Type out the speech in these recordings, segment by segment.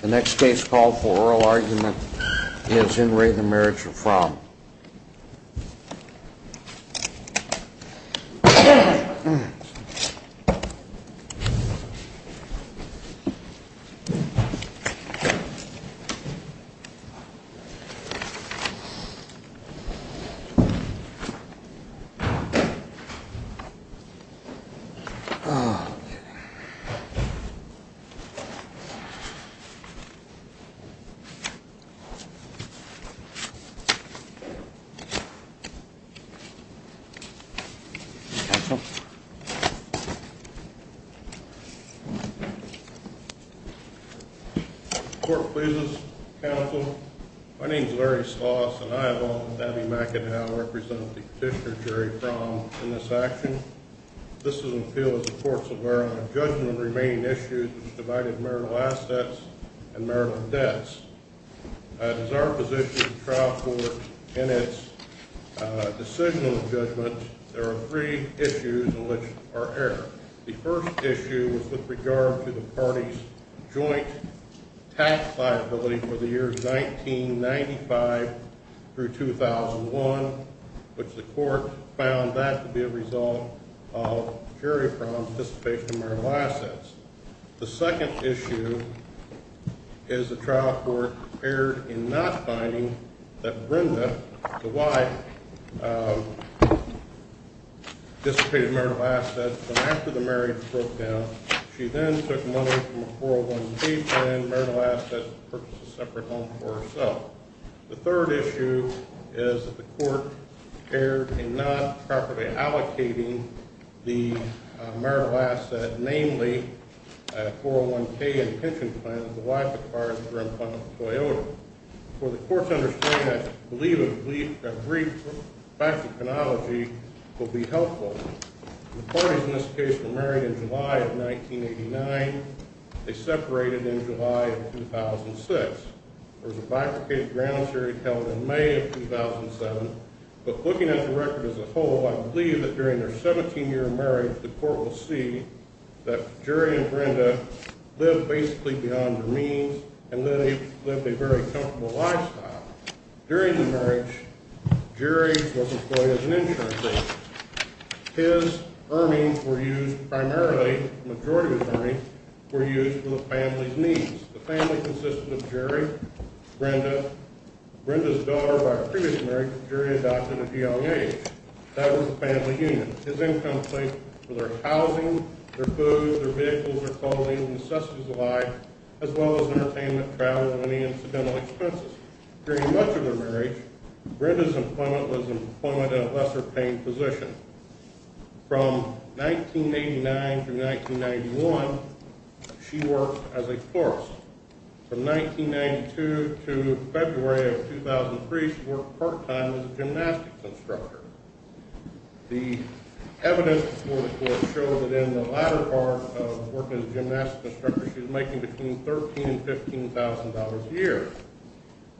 The next case called for oral argument is in Re the Marriage of Fromm. Court pleases, counsel. My name is Larry Sloss and I, along with Abby McAdow, represent the petitioner Jerry Fromm in this action. This is an appeal of the courts of Maryland. Judgment of the remaining issues which divided marital assets and marital debts. As our position of the trial court in its decisional judgment, there are three issues in which are aired. The first issue is with regard to the party's joint tax liability for the years 1995 through 2001, which the court found that to be a result of Jerry Fromm's dissipation of marital assets. The second issue is the trial court erred in not finding that Brenda, the wife, dissipated marital assets. But after the marriage broke down, she then took money from a 401k plan, marital assets, and purchased a separate home for herself. The third issue is that the court erred in not properly allocating the marital asset, namely a 401k and pension plan, to the wife as far as her employment with Toyota. For the court to understand, I believe a brief back to chronology will be helpful. The parties in this case were married in July of 1989. They separated in July of 2006. There was a bifurcated ground series held in May of 2007. But looking at the record as a whole, I believe that during their 17-year marriage, the court will see that Jerry and Brenda lived basically beyond their means and lived a very comfortable lifestyle. During the marriage, Jerry was employed as an insurance agent. His earnings were used primarily, the majority of his earnings, were used for the family's needs. The family consisted of Jerry, Brenda. Brenda's daughter, by her previous marriage, Jerry adopted at a young age. That was the family union. His income was for their housing, their food, their vehicles, their clothing, necessities of life, as well as entertainment, travel, and any incidental expenses. During much of their marriage, Brenda's employment was in a lesser-paying position. From 1989 to 1991, she worked as a florist. From 1992 to February of 2003, she worked part-time as a gymnastics instructor. The evidence before the court showed that in the latter part of working as a gymnastics instructor, she was making between $13,000 and $15,000 a year.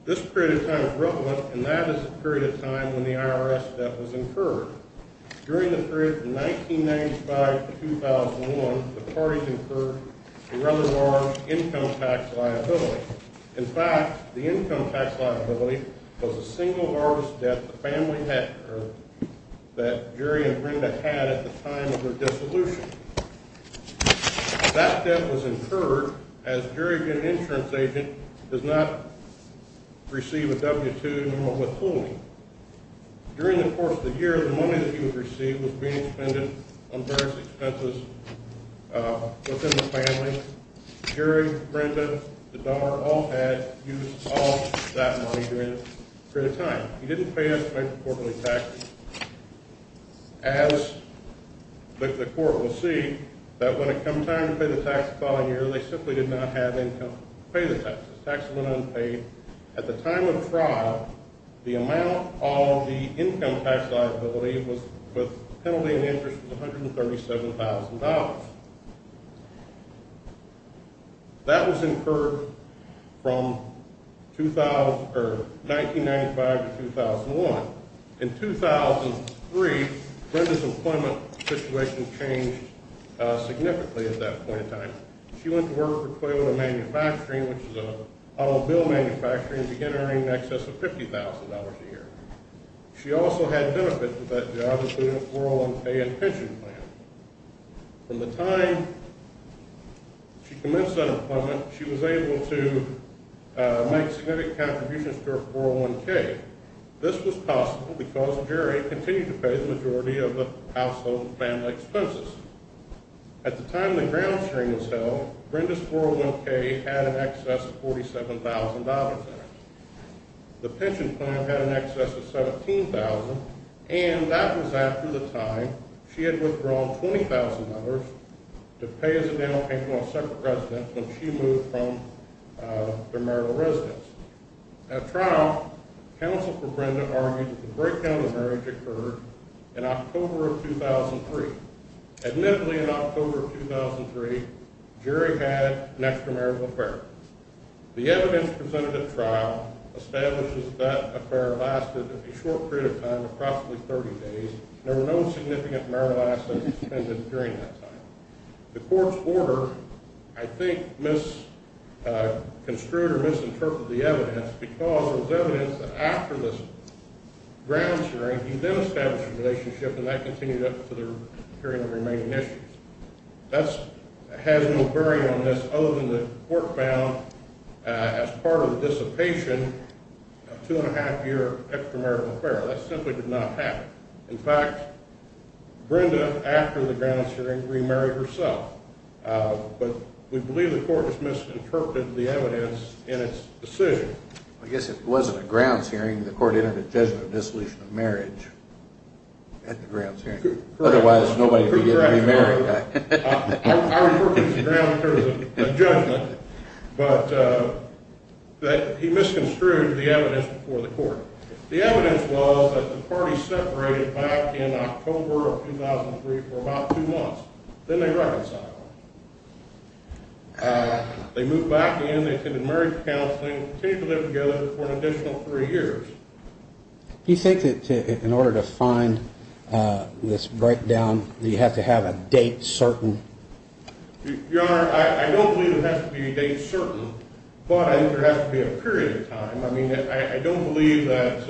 This period of time is relevant, and that is the period of time when the IRS debt was incurred. During the period from 1995 to 2001, the parties incurred a rather large income tax liability. In fact, the income tax liability was the single largest debt that Jerry and Brenda had at the time of their dissolution. That debt was incurred as Jerry, being an insurance agent, does not receive a W-2 nor withholding. During the course of the year, the money that he would receive was being expended on various expenses within the family. Jerry, Brenda, the daughter, all had use of that money during this period of time. He didn't pay us much quarterly taxes. As the court will see, that when it comes time to pay the tax the following year, they simply did not have income to pay the taxes. Taxes went unpaid. At the time of fraud, the amount of the income tax liability with penalty and interest was $137,000. That was incurred from 1995 to 2001. In 2003, Brenda's employment situation changed significantly at that point in time. She went to work for Toyota Manufacturing, which is an automobile manufacturer, and began earning in excess of $50,000 a year. She also had benefits with that job, including a 401k and pension plan. From the time she commenced that employment, she was able to make significant contributions to her 401k. This was possible because Jerry continued to pay the majority of the household and family expenses. At the time the ground string was held, Brenda's 401k had in excess of $47,000 in it. The pension plan had in excess of $17,000. And that was after the time she had withdrawn $20,000 to pay as a down payment on separate residence when she moved from her marital residence. At trial, counsel for Brenda argued that the breakdown of marriage occurred in October of 2003. Admittedly, in October of 2003, Jerry had an extramarital affair. The evidence presented at trial establishes that affair lasted a short period of time, approximately 30 days, and there were no significant marital assets expended during that time. The court's order, I think, misconstrued or misinterpreted the evidence, because there was evidence that after this ground string, he then established a relationship, and that continued up to the period of remaining issues. That has no bearing on this other than the court found, as part of the dissipation, a two-and-a-half-year extramarital affair. That simply did not happen. In fact, Brenda, after the ground string, remarried herself. But we believe the court has misinterpreted the evidence in its decision. I guess it wasn't a ground string. The court entered a judgment of dissolution of marriage at the ground string. Otherwise, nobody would be getting remarried. I refer to this ground string as a judgment, but he misconstrued the evidence before the court. The evidence was that the party separated back in October of 2003 for about two months. Then they reconciled. They moved back in. They attended marriage counseling and continued to live together for an additional three years. Do you think that in order to find this breakdown, you have to have a date certain? Your Honor, I don't believe it has to be a date certain, but I think there has to be a period of time. I mean, I don't believe that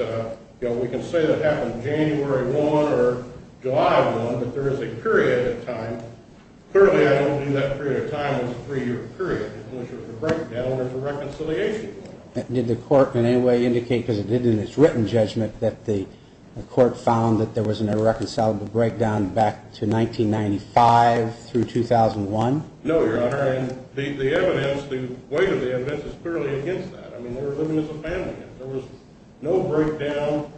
we can say that happened January 1 or July 1, but there is a period of time. Clearly, I don't believe that period of time was a three-year period. It was a breakdown, or it was a reconciliation. Did the court in any way indicate, because it did in its written judgment, that the court found that there was an irreconcilable breakdown back to 1995 through 2001? No, Your Honor. And the evidence, the weight of the evidence is clearly against that. I mean, they were living as a family. There was no breakdown,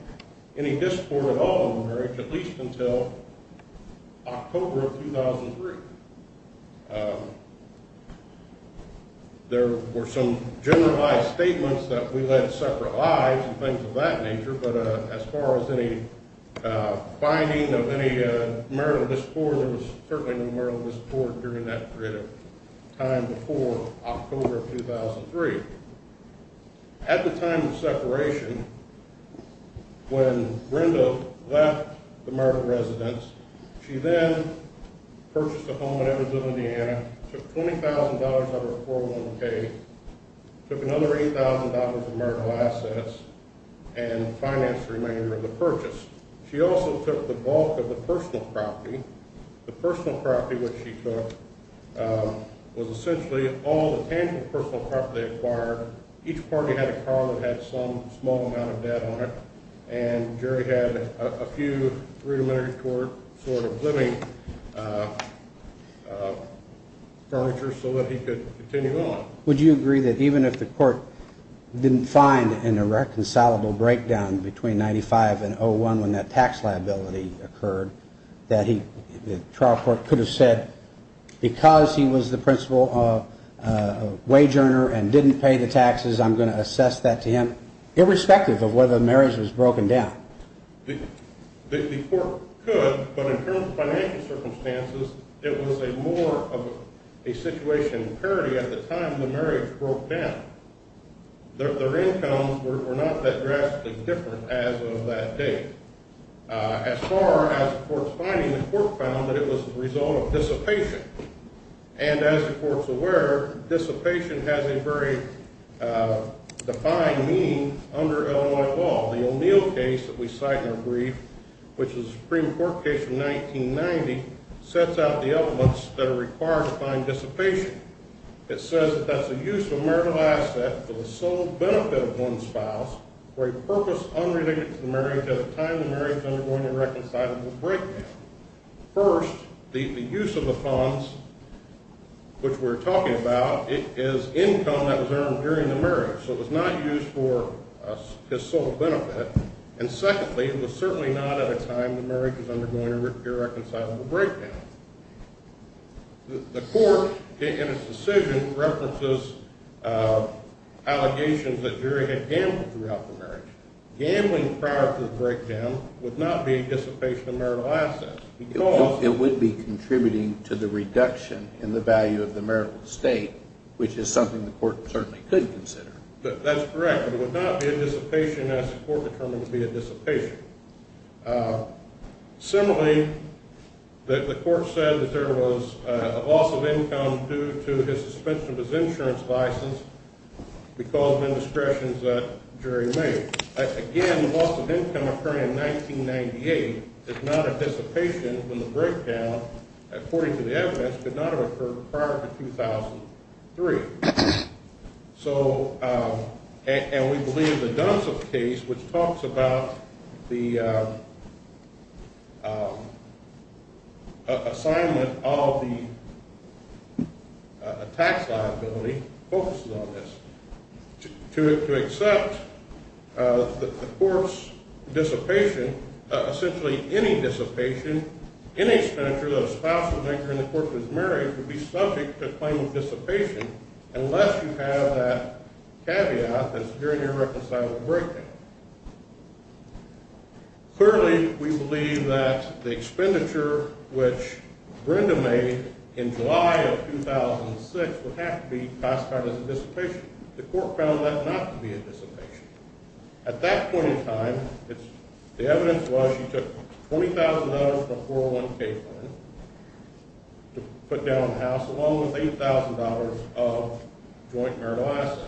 any discord at all in the marriage, at least until October of 2003. There were some generalized statements that we led separate lives and things of that nature, but as far as any finding of any marital discord, there was certainly no marital discord during that period of time before October of 2003. At the time of separation, when Brenda left the marital residence, she then purchased a home in Evansville, Indiana, took $20,000 out of her 401k, took another $8,000 of marital assets, and financed the remainder of the purchase. She also took the bulk of the personal property. The personal property which she took was essentially all the tangible personal property they acquired. Each party had a car that had some small amount of debt on it, and Jerry had a few rudimentary sort of living furniture so that he could continue on. Would you agree that even if the court didn't find an irreconcilable breakdown between 1995 and 2001 when that tax liability occurred, that the trial court could have said, because he was the principal wage earner and didn't pay the taxes, I'm going to assess that to him, irrespective of whether the marriage was broken down? The court could, but in current financial circumstances, it was more of a situation of parity at the time the marriage broke down. Their incomes were not that drastically different as of that date. As far as the court's finding, the court found that it was the result of dissipation, and as the court's aware, dissipation has a very defined meaning under Illinois law. The O'Neill case that we cite in our brief, which is a Supreme Court case from 1990, sets out the elements that are required to find dissipation. It says that that's the use of a marital asset for the sole benefit of one's spouse, for a purpose unrelated to the marriage at a time the marriage is undergoing an irreconcilable breakdown. First, the use of the funds, which we're talking about, is income that was earned during the marriage, so it was not used for his sole benefit. And secondly, it was certainly not at a time the marriage was undergoing an irreconcilable breakdown. The court, in its decision, references allegations that Jerry had gambled throughout the marriage. Gambling prior to the breakdown would not be a dissipation of marital assets because It would be contributing to the reduction in the value of the marital estate, which is something the court certainly could consider. That's correct, but it would not be a dissipation as the court determined to be a dissipation. Similarly, the court said that there was a loss of income due to his suspension of his insurance license because of indiscretions that Jerry made. Again, the loss of income occurring in 1998 is not a dissipation when the breakdown, according to the evidence, could not have occurred prior to 2003. And we believe the Dunstop case, which talks about the assignment of the tax liability, focuses on this. To accept the court's dissipation, essentially any dissipation, any expenditure that a spouse would make during the court's marriage would be subject to a claim of dissipation unless you have that caveat that it's during an irreconcilable breakdown. Clearly, we believe that the expenditure which Brenda made in July of 2006 would have to be classified as a dissipation. The court found that not to be a dissipation. At that point in time, the evidence was she took $20,000 from a 401k fund to put down the house, along with $8,000 of joint marital assets.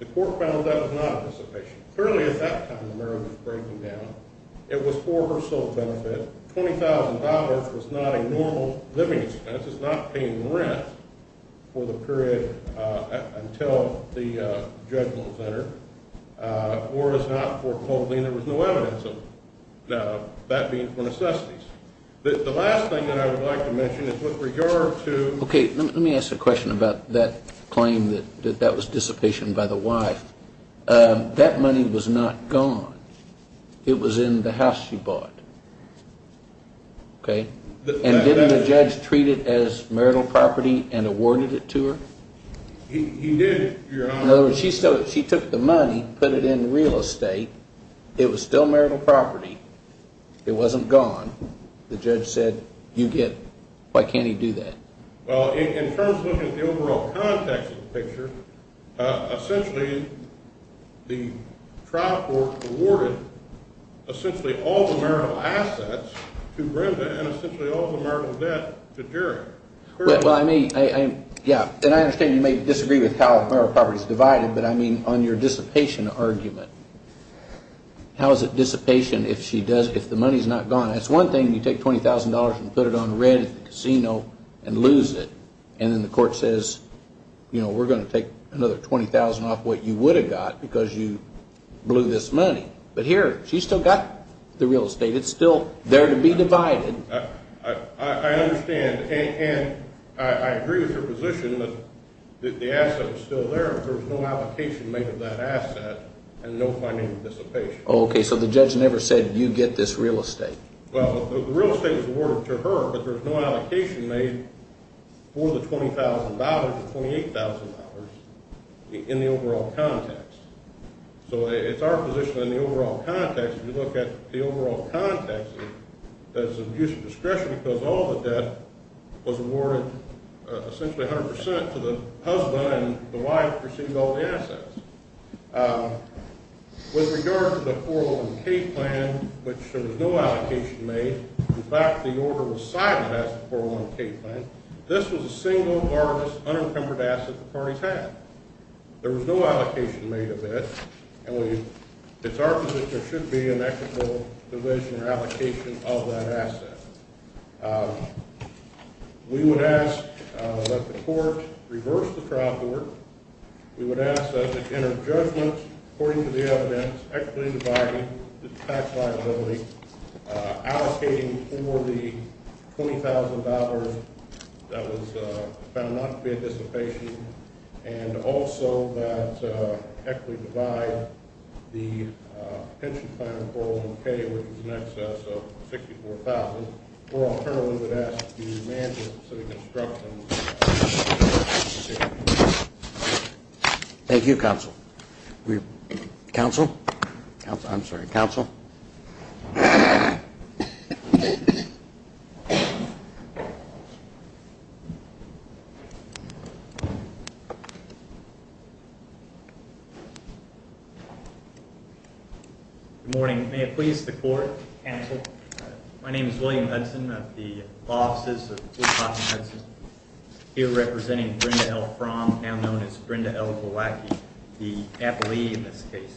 The court found that was not a dissipation. Clearly, at that time, the marriage was breaking down. It was for her sole benefit. $20,000 was not a normal living expense. It's not paying rent for the period until the judgment center, or it's not for clothing. There was no evidence of that being for necessities. The last thing that I would like to mention is with regard to ‑‑ Okay, let me ask a question about that claim that that was dissipation by the wife. That money was not gone. It was in the house she bought. Okay? And didn't the judge treat it as marital property and awarded it to her? He did. In other words, she took the money, put it in real estate. It was still marital property. It wasn't gone. The judge said, you get it. Why can't he do that? Well, in terms of looking at the overall context of the picture, essentially the trial court awarded essentially all the marital assets to Brenda and essentially all the marital debt to Jerry. Well, I mean, yeah, and I understand you may disagree with how marital property is divided, but I mean on your dissipation argument. How is it dissipation if the money is not gone? It's one thing you take $20,000 and put it on rent at the casino and lose it, and then the court says, you know, we're going to take another $20,000 off what you would have got because you blew this money. But here she's still got the real estate. It's still there to be divided. I understand, and I agree with your position that the asset was still there. There was no allocation made of that asset and no financial dissipation. Okay, so the judge never said you get this real estate. Well, the real estate was awarded to her, but there was no allocation made for the $20,000 to $28,000 in the overall context. So it's our position in the overall context, if you look at the overall context, that it's an abuse of discretion because all the debt was awarded essentially 100 percent to the husband, and the wife received all the assets. With regard to the 401K plan, which there was no allocation made. In fact, the order was sided as the 401K plan. This was the single largest unencumbered asset the parties had. There was no allocation made of it, and it's our position there should be an equitable division or allocation of that asset. We would ask that the court reverse the trial court. We would ask that it enter judgment according to the evidence, equitably dividing the tax liability, allocating for the $20,000 that was found not to be a dissipation, and also that equitably divide the pension plan for the 401K, which is in excess of $64,000. Or alternatively, we would ask the manager to reconstruct them. Thank you, counsel. Counsel? I'm sorry, counsel? Good morning. May it please the court? Counsel? My name is William Hudson of the Law Offices of Wisconsin-Hudson, here representing Brenda L. Fromm, now known as Brenda L. Gowacki, the appellee in this case.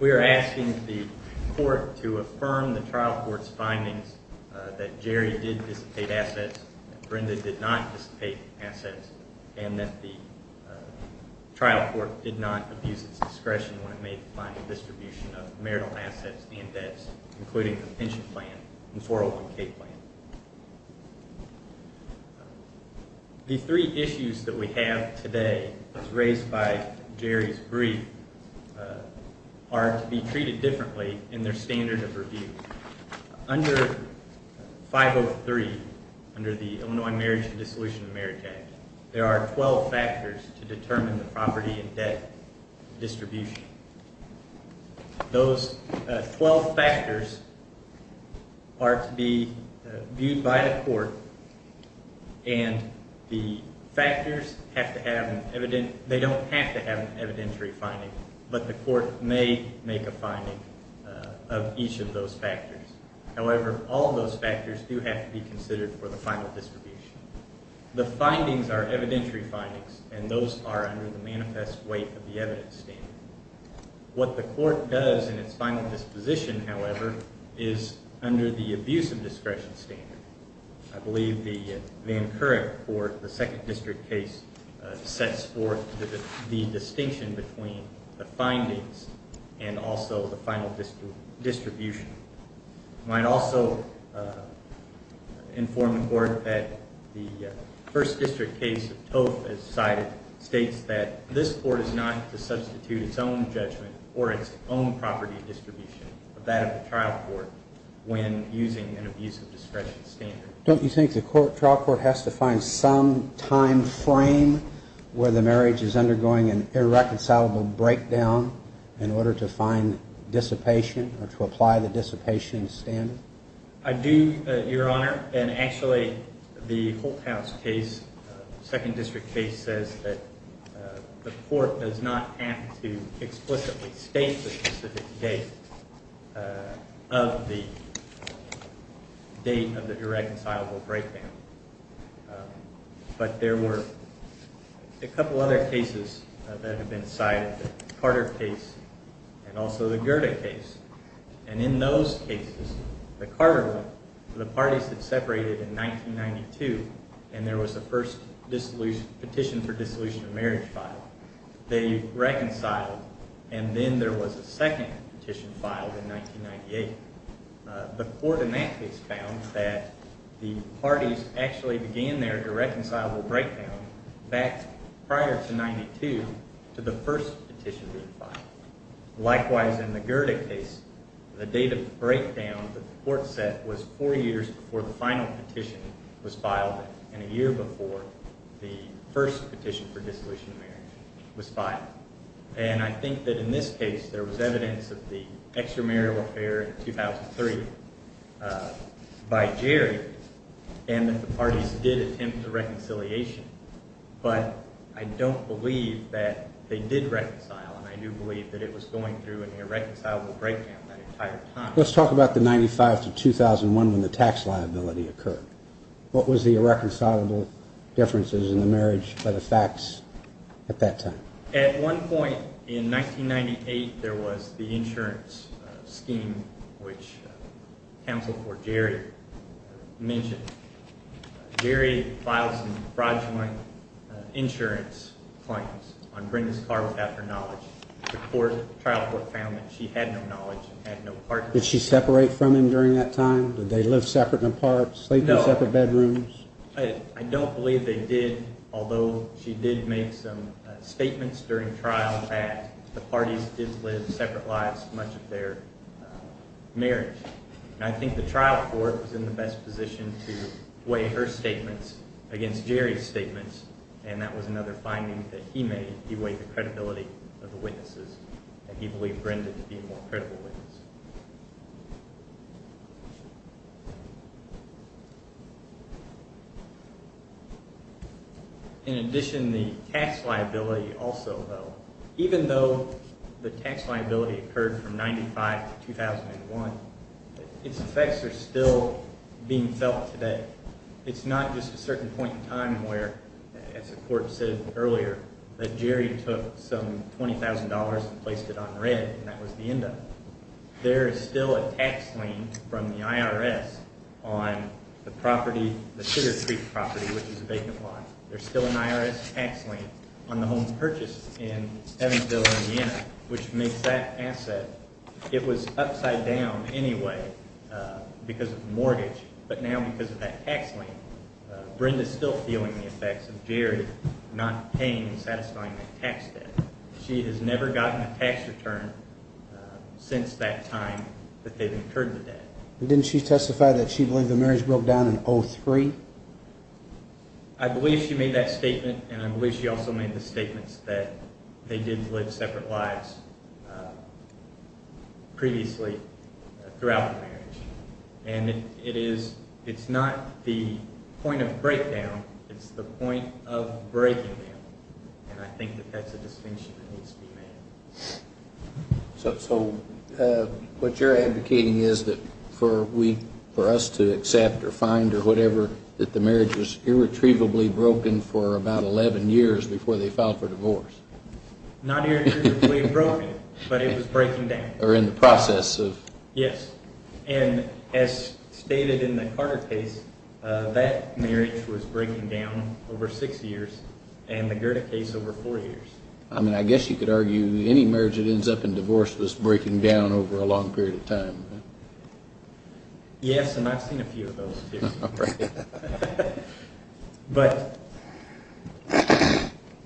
We are asking the court to affirm the trial court's findings that Jerry did dissipate assets, that Brenda did not dissipate assets, and that the trial court did not abuse its discretion when it made the final distribution of marital assets and debts, including the pension plan and 401K plan. The three issues that we have today, as raised by Jerry's brief, are to be treated differently in their standard of review. Under 503, under the Illinois Marriage and Dissolution of Marriage Act, there are 12 factors to determine the property and debt distribution. Those 12 factors are to be viewed by the court, and the factors have to have an evidentiary – they don't have to have an evidentiary finding, but the court may make a finding of each of those factors. However, all of those factors do have to be considered for the final distribution. The findings are evidentiary findings, and those are under the manifest weight of the evidence standard. What the court does in its final disposition, however, is under the abuse of discretion standard. I believe the current court, the second district case, sets forth the distinction between the findings and also the final distribution. I might also inform the court that the first district case, TOEF as cited, states that this court is not to substitute its own judgment or its own property distribution of that of the trial court when using an abuse of discretion standard. Don't you think the trial court has to find some time frame where the marriage is undergoing an irreconcilable breakdown in order to find dissipation or to apply the dissipation standard? I do, Your Honor, and actually the Holt House case, second district case, says that the court does not have to explicitly state the specific date of the date of the irreconcilable breakdown. But there were a couple other cases that have been cited, the Carter case and also the Goethe case. And in those cases, the Carter one, the parties had separated in 1992, and there was a first petition for dissolution of marriage filed. They reconciled, and then there was a second petition filed in 1998. The court in that case found that the parties actually began their irreconcilable breakdown back prior to 1992 to the first petition being filed. Likewise, in the Goethe case, the date of the breakdown that the court set was four years before the final petition was filed and a year before the first petition for dissolution of marriage was filed. And I think that in this case, there was evidence of the extramarital affair in 2003 by Jerry and that the parties did attempt a reconciliation. But I don't believe that they did reconcile, and I do believe that it was going through an irreconcilable breakdown that entire time. Let's talk about the 1995 to 2001 when the tax liability occurred. What was the irreconcilable differences in the marriage by the facts at that time? At one point in 1998, there was the insurance scheme, which counsel for Jerry mentioned. Jerry filed some fraudulent insurance claims on Brenda's car without her knowledge. The trial court found that she had no knowledge and had no partner. Did she separate from him during that time? Did they live separate and apart, sleep in separate bedrooms? I don't believe they did, although she did make some statements during trial that the parties did live separate lives much of their marriage. I think the trial court was in the best position to weigh her statements against Jerry's statements, and that was another finding that he made. He weighed the credibility of the witnesses, and he believed Brenda to be a more credible witness. In addition, the tax liability also fell. Even though the tax liability occurred from 1995 to 2001, its effects are still being felt today. It's not just a certain point in time where, as the court said earlier, that Jerry took some $20,000 and placed it on rent, and that was the end of it. There is still a tax lien from the IRS on the Sugar Creek property, which is a vacant lot. There's still an IRS tax lien on the home purchase in Evansville, Indiana, which makes that asset. It was upside down anyway because of the mortgage, but now because of that tax lien, Brenda's still feeling the effects of Jerry not paying and satisfying that tax debt. She has never gotten a tax return since that time that they've incurred the debt. Didn't she testify that she believed the marriage broke down in 2003? I believe she made that statement, and I believe she also made the statements that they did live separate lives previously throughout the marriage. And it's not the point of breakdown, it's the point of breaking them, and I think that that's a distinction that needs to be made. So what you're advocating is that for us to accept or find or whatever, that the marriage was irretrievably broken for about 11 years before they filed for divorce? Not irretrievably broken, but it was breaking down. Or in the process of? Yes, and as stated in the Carter case, that marriage was breaking down over six years, and the Gerda case over four years. I mean, I guess you could argue any marriage that ends up in divorce was breaking down over a long period of time. Yes, and I've seen a few of those, too. But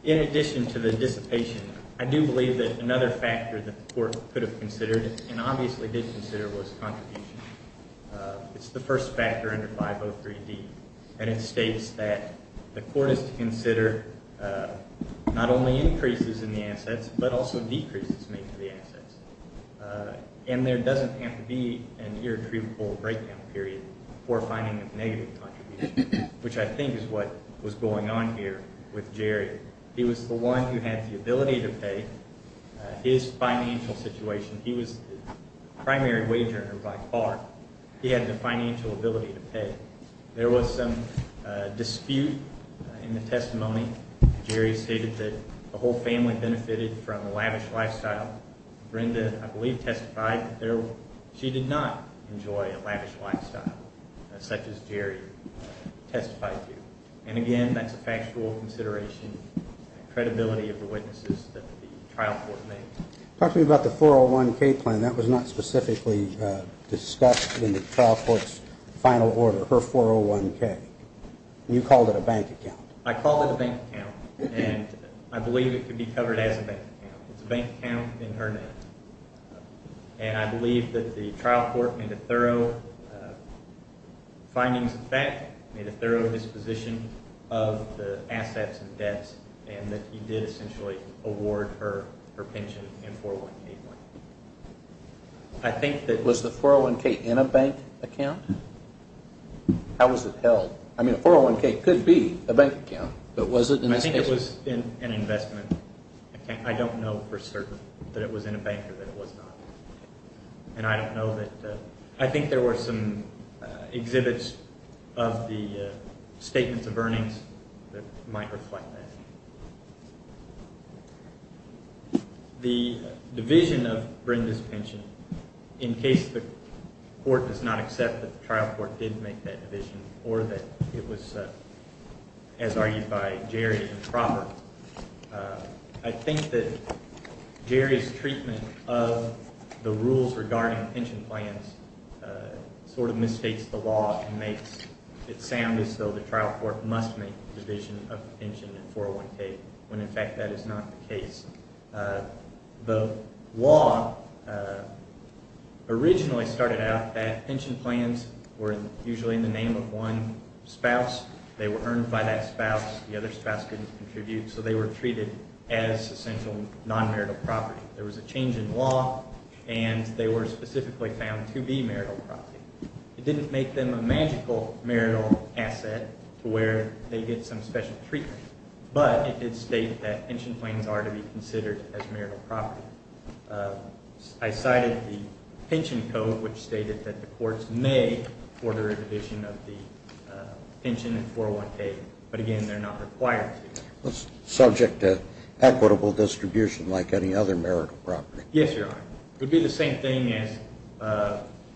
in addition to the dissipation, I do believe that another factor that the court could have considered and obviously did consider was contribution. It's the first factor under 503D, and it states that the court is to consider not only increases in the assets but also decreases in the assets. And there doesn't have to be an irretrievable breakdown period for finding a negative contribution, which I think is what was going on here with Jerry. He was the one who had the ability to pay. His financial situation, he was the primary wage earner by far. He had the financial ability to pay. There was some dispute in the testimony. Jerry stated that the whole family benefited from the lavish lifestyle. Brenda, I believe, testified that she did not enjoy a lavish lifestyle such as Jerry testified to. And, again, that's a factual consideration and credibility of the witnesses that the trial court made. Talk to me about the 401K plan. And that was not specifically discussed in the trial court's final order, her 401K. You called it a bank account. I called it a bank account, and I believe it could be covered as a bank account. It's a bank account in her name. And I believe that the trial court made a thorough findings of fact, made a thorough disposition of the assets and debts, and that he did essentially award her her pension in a 401K plan. Was the 401K in a bank account? How was it held? I mean, a 401K could be a bank account, but was it in this case? I think it was an investment. I don't know for certain that it was in a bank or that it was not. And I don't know that. I think there were some exhibits of the statements of earnings that might reflect that. The division of Brenda's pension, in case the court does not accept that the trial court did make that division or that it was, as argued by Jerry, improper. I think that Jerry's treatment of the rules regarding pension plans sort of misstates the law and makes it sound as though the trial court must make a division of the pension in a 401K, when in fact that is not the case. The law originally started out that pension plans were usually in the name of one spouse. They were earned by that spouse. The other spouse couldn't contribute, so they were treated as essential non-marital property. There was a change in law, and they were specifically found to be marital property. It didn't make them a magical marital asset to where they get some special treatment, but it did state that pension plans are to be considered as marital property. I cited the pension code, which stated that the courts may order a division of the pension in 401K, but, again, they're not required to. Subject to equitable distribution like any other marital property. Yes, Your Honor. It would be the same thing as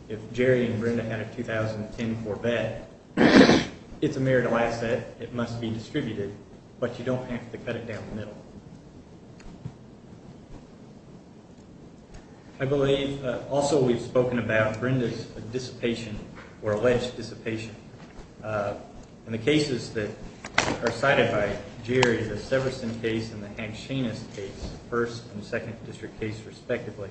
if Jerry and Brenda had a 2010 Corvette. It's a marital asset. It must be distributed, but you don't have to cut it down the middle. I believe also we've spoken about Brenda's dissipation or alleged dissipation. In the cases that are cited by Jerry, the Severson case and the Hank Sheenis case, first and second district case respectively,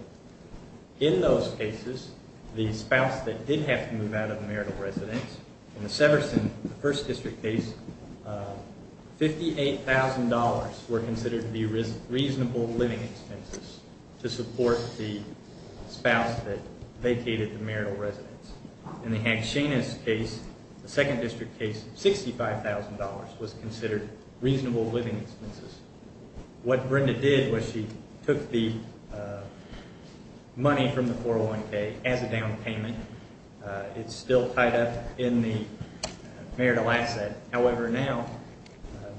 in those cases, the spouse that did have to move out of the marital residence, in the Severson first district case, $58,000 were considered to be reasonable living expenses to support the spouse that vacated the marital residence. In the Hank Sheenis case, the second district case, $65,000 was considered reasonable living expenses. What Brenda did was she took the money from the 401K as a down payment. It's still tied up in the marital asset. However, now,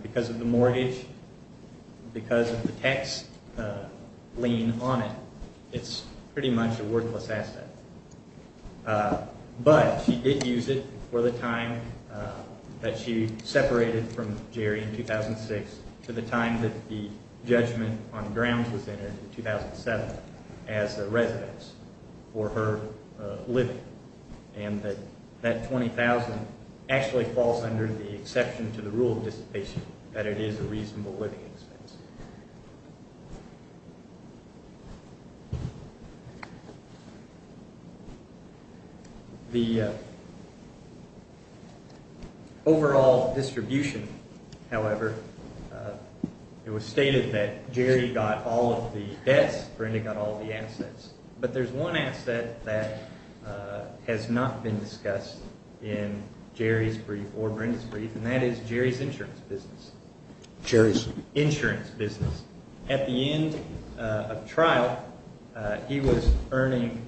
because of the mortgage, because of the tax lien on it, it's pretty much a worthless asset. But she did use it for the time that she separated from Jerry in 2006 to the time that the judgment on grounds was entered in 2007 as a residence for her living. And that $20,000 actually falls under the exception to the rule of dissipation that it is a reasonable living expense. The overall distribution, however, it was stated that Jerry got all of the debts. Brenda got all the assets. But there's one asset that has not been discussed in Jerry's brief or Brenda's brief, and that is Jerry's insurance business. Jerry's? Insurance business. At the end of trial, he was earning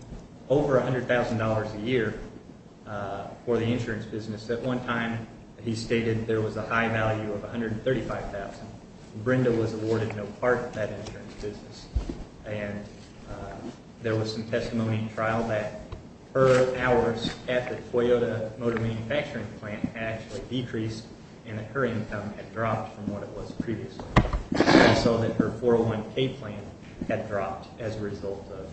over $100,000 a year for the insurance business. At one time, he stated there was a high value of $135,000. Brenda was awarded no part of that insurance business. And there was some testimony in trial that her hours at the Toyota motor manufacturing plant had actually decreased and that her income had dropped from what it was previously. We saw that her 401K plan had dropped as a result of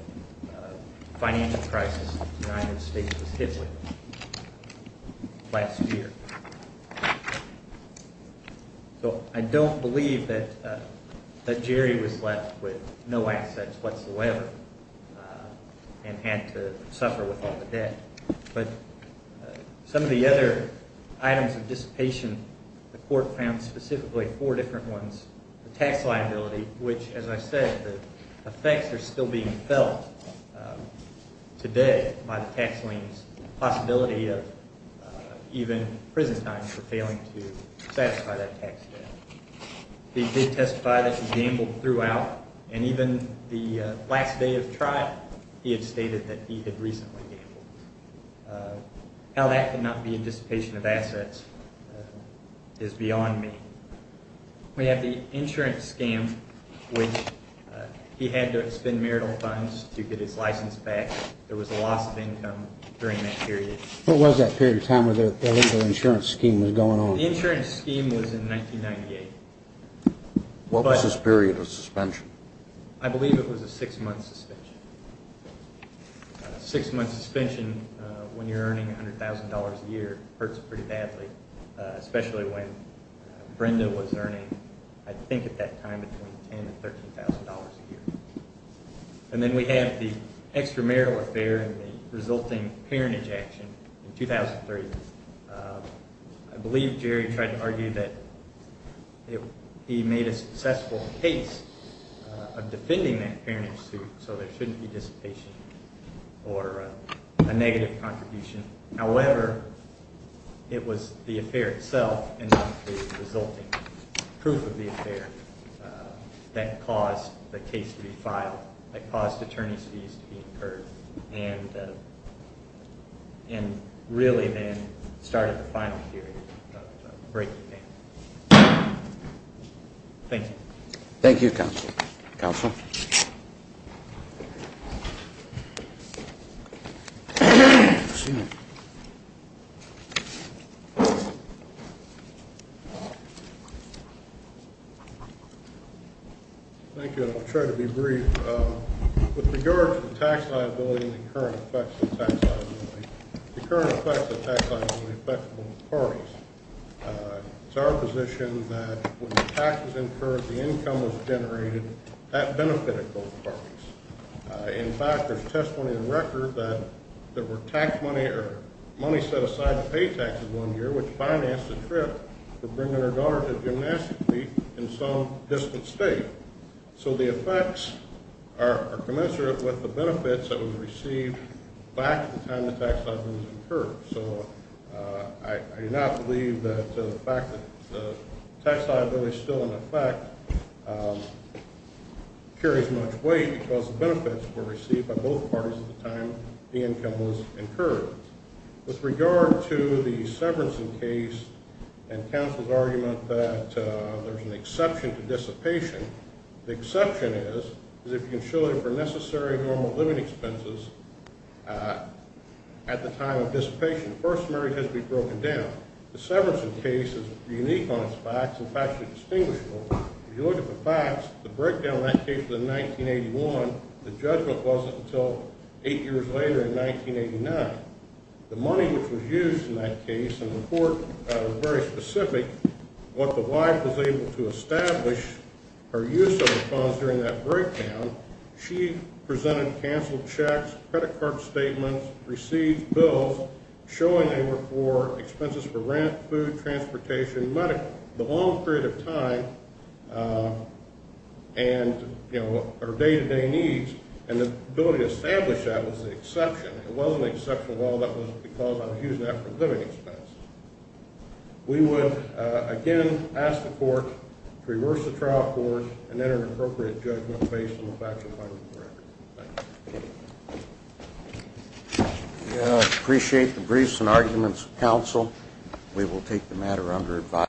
a financial crisis that the United States was hit with last year. So I don't believe that Jerry was left with no assets whatsoever and had to suffer with all the debt. But some of the other items of dissipation, the court found specifically four different ones, the tax liability, which, as I said, the effects are still being felt today by the tax liens, the possibility of even prison time for failing to satisfy that tax debt. He did testify that he gambled throughout, and even the last day of trial, he had stated that he had recently gambled. How that could not be a dissipation of assets is beyond me. We have the insurance scam, which he had to expend marital funds to get his license back. There was a loss of income during that period. What was that period of time when the legal insurance scheme was going on? The insurance scheme was in 1998. What was this period of suspension? I believe it was a six-month suspension. A six-month suspension when you're earning $100,000 a year hurts pretty badly, especially when Brenda was earning, I think at that time, between $10,000 and $13,000 a year. And then we have the extramarital affair and the resulting parentage action in 2003. I believe Jerry tried to argue that he made a successful case of defending that parentage suit, so there shouldn't be dissipation or a negative contribution. However, it was the affair itself and the resulting proof of the affair that caused the case to be filed, that caused attorney's fees to be incurred. And really, then, started the final period of breaking the ban. Thank you. Thank you, Counsel. Counsel? Thank you. I'll try to be brief. With regard to the tax liability and the current effects of tax liability, the current effects of tax liability affect both parties. It's our position that when the tax was incurred, the income was generated. That benefited both parties. In fact, there's testimony on record that there were tax money or money set aside to pay taxes one year, which financed the trip for Brenda and her daughter to gymnastics league in some distant state. So the effects are commensurate with the benefits that were received back at the time the tax liability was incurred. So I do not believe that the fact that the tax liability is still in effect carries much weight because the benefits were received by both parties at the time the income was incurred. With regard to the Severinsen case and counsel's argument that there's an exception to dissipation, the exception is if you can show it for necessary normal living expenses at the time of dissipation. The first summary has to be broken down. The Severinsen case is unique on its facts. In fact, it's distinguishable. If you look at the facts, the breakdown in that case was in 1981. The judgment wasn't until eight years later in 1989. The money which was used in that case, and the court was very specific, what the wife was able to establish her use of the funds during that breakdown, she presented canceled checks, credit card statements, received bills showing they were for expenses for rent, food, transportation, medical, the long period of time. And, you know, her day-to-day needs, and the ability to establish that was the exception. It wasn't an exception at all. That was because I was using that for a living expense. We would, again, ask the court to reverse the trial court and enter an appropriate judgment based on the facts and findings of the record. Thank you. We appreciate the briefs and arguments of counsel. We will take the matter under advice.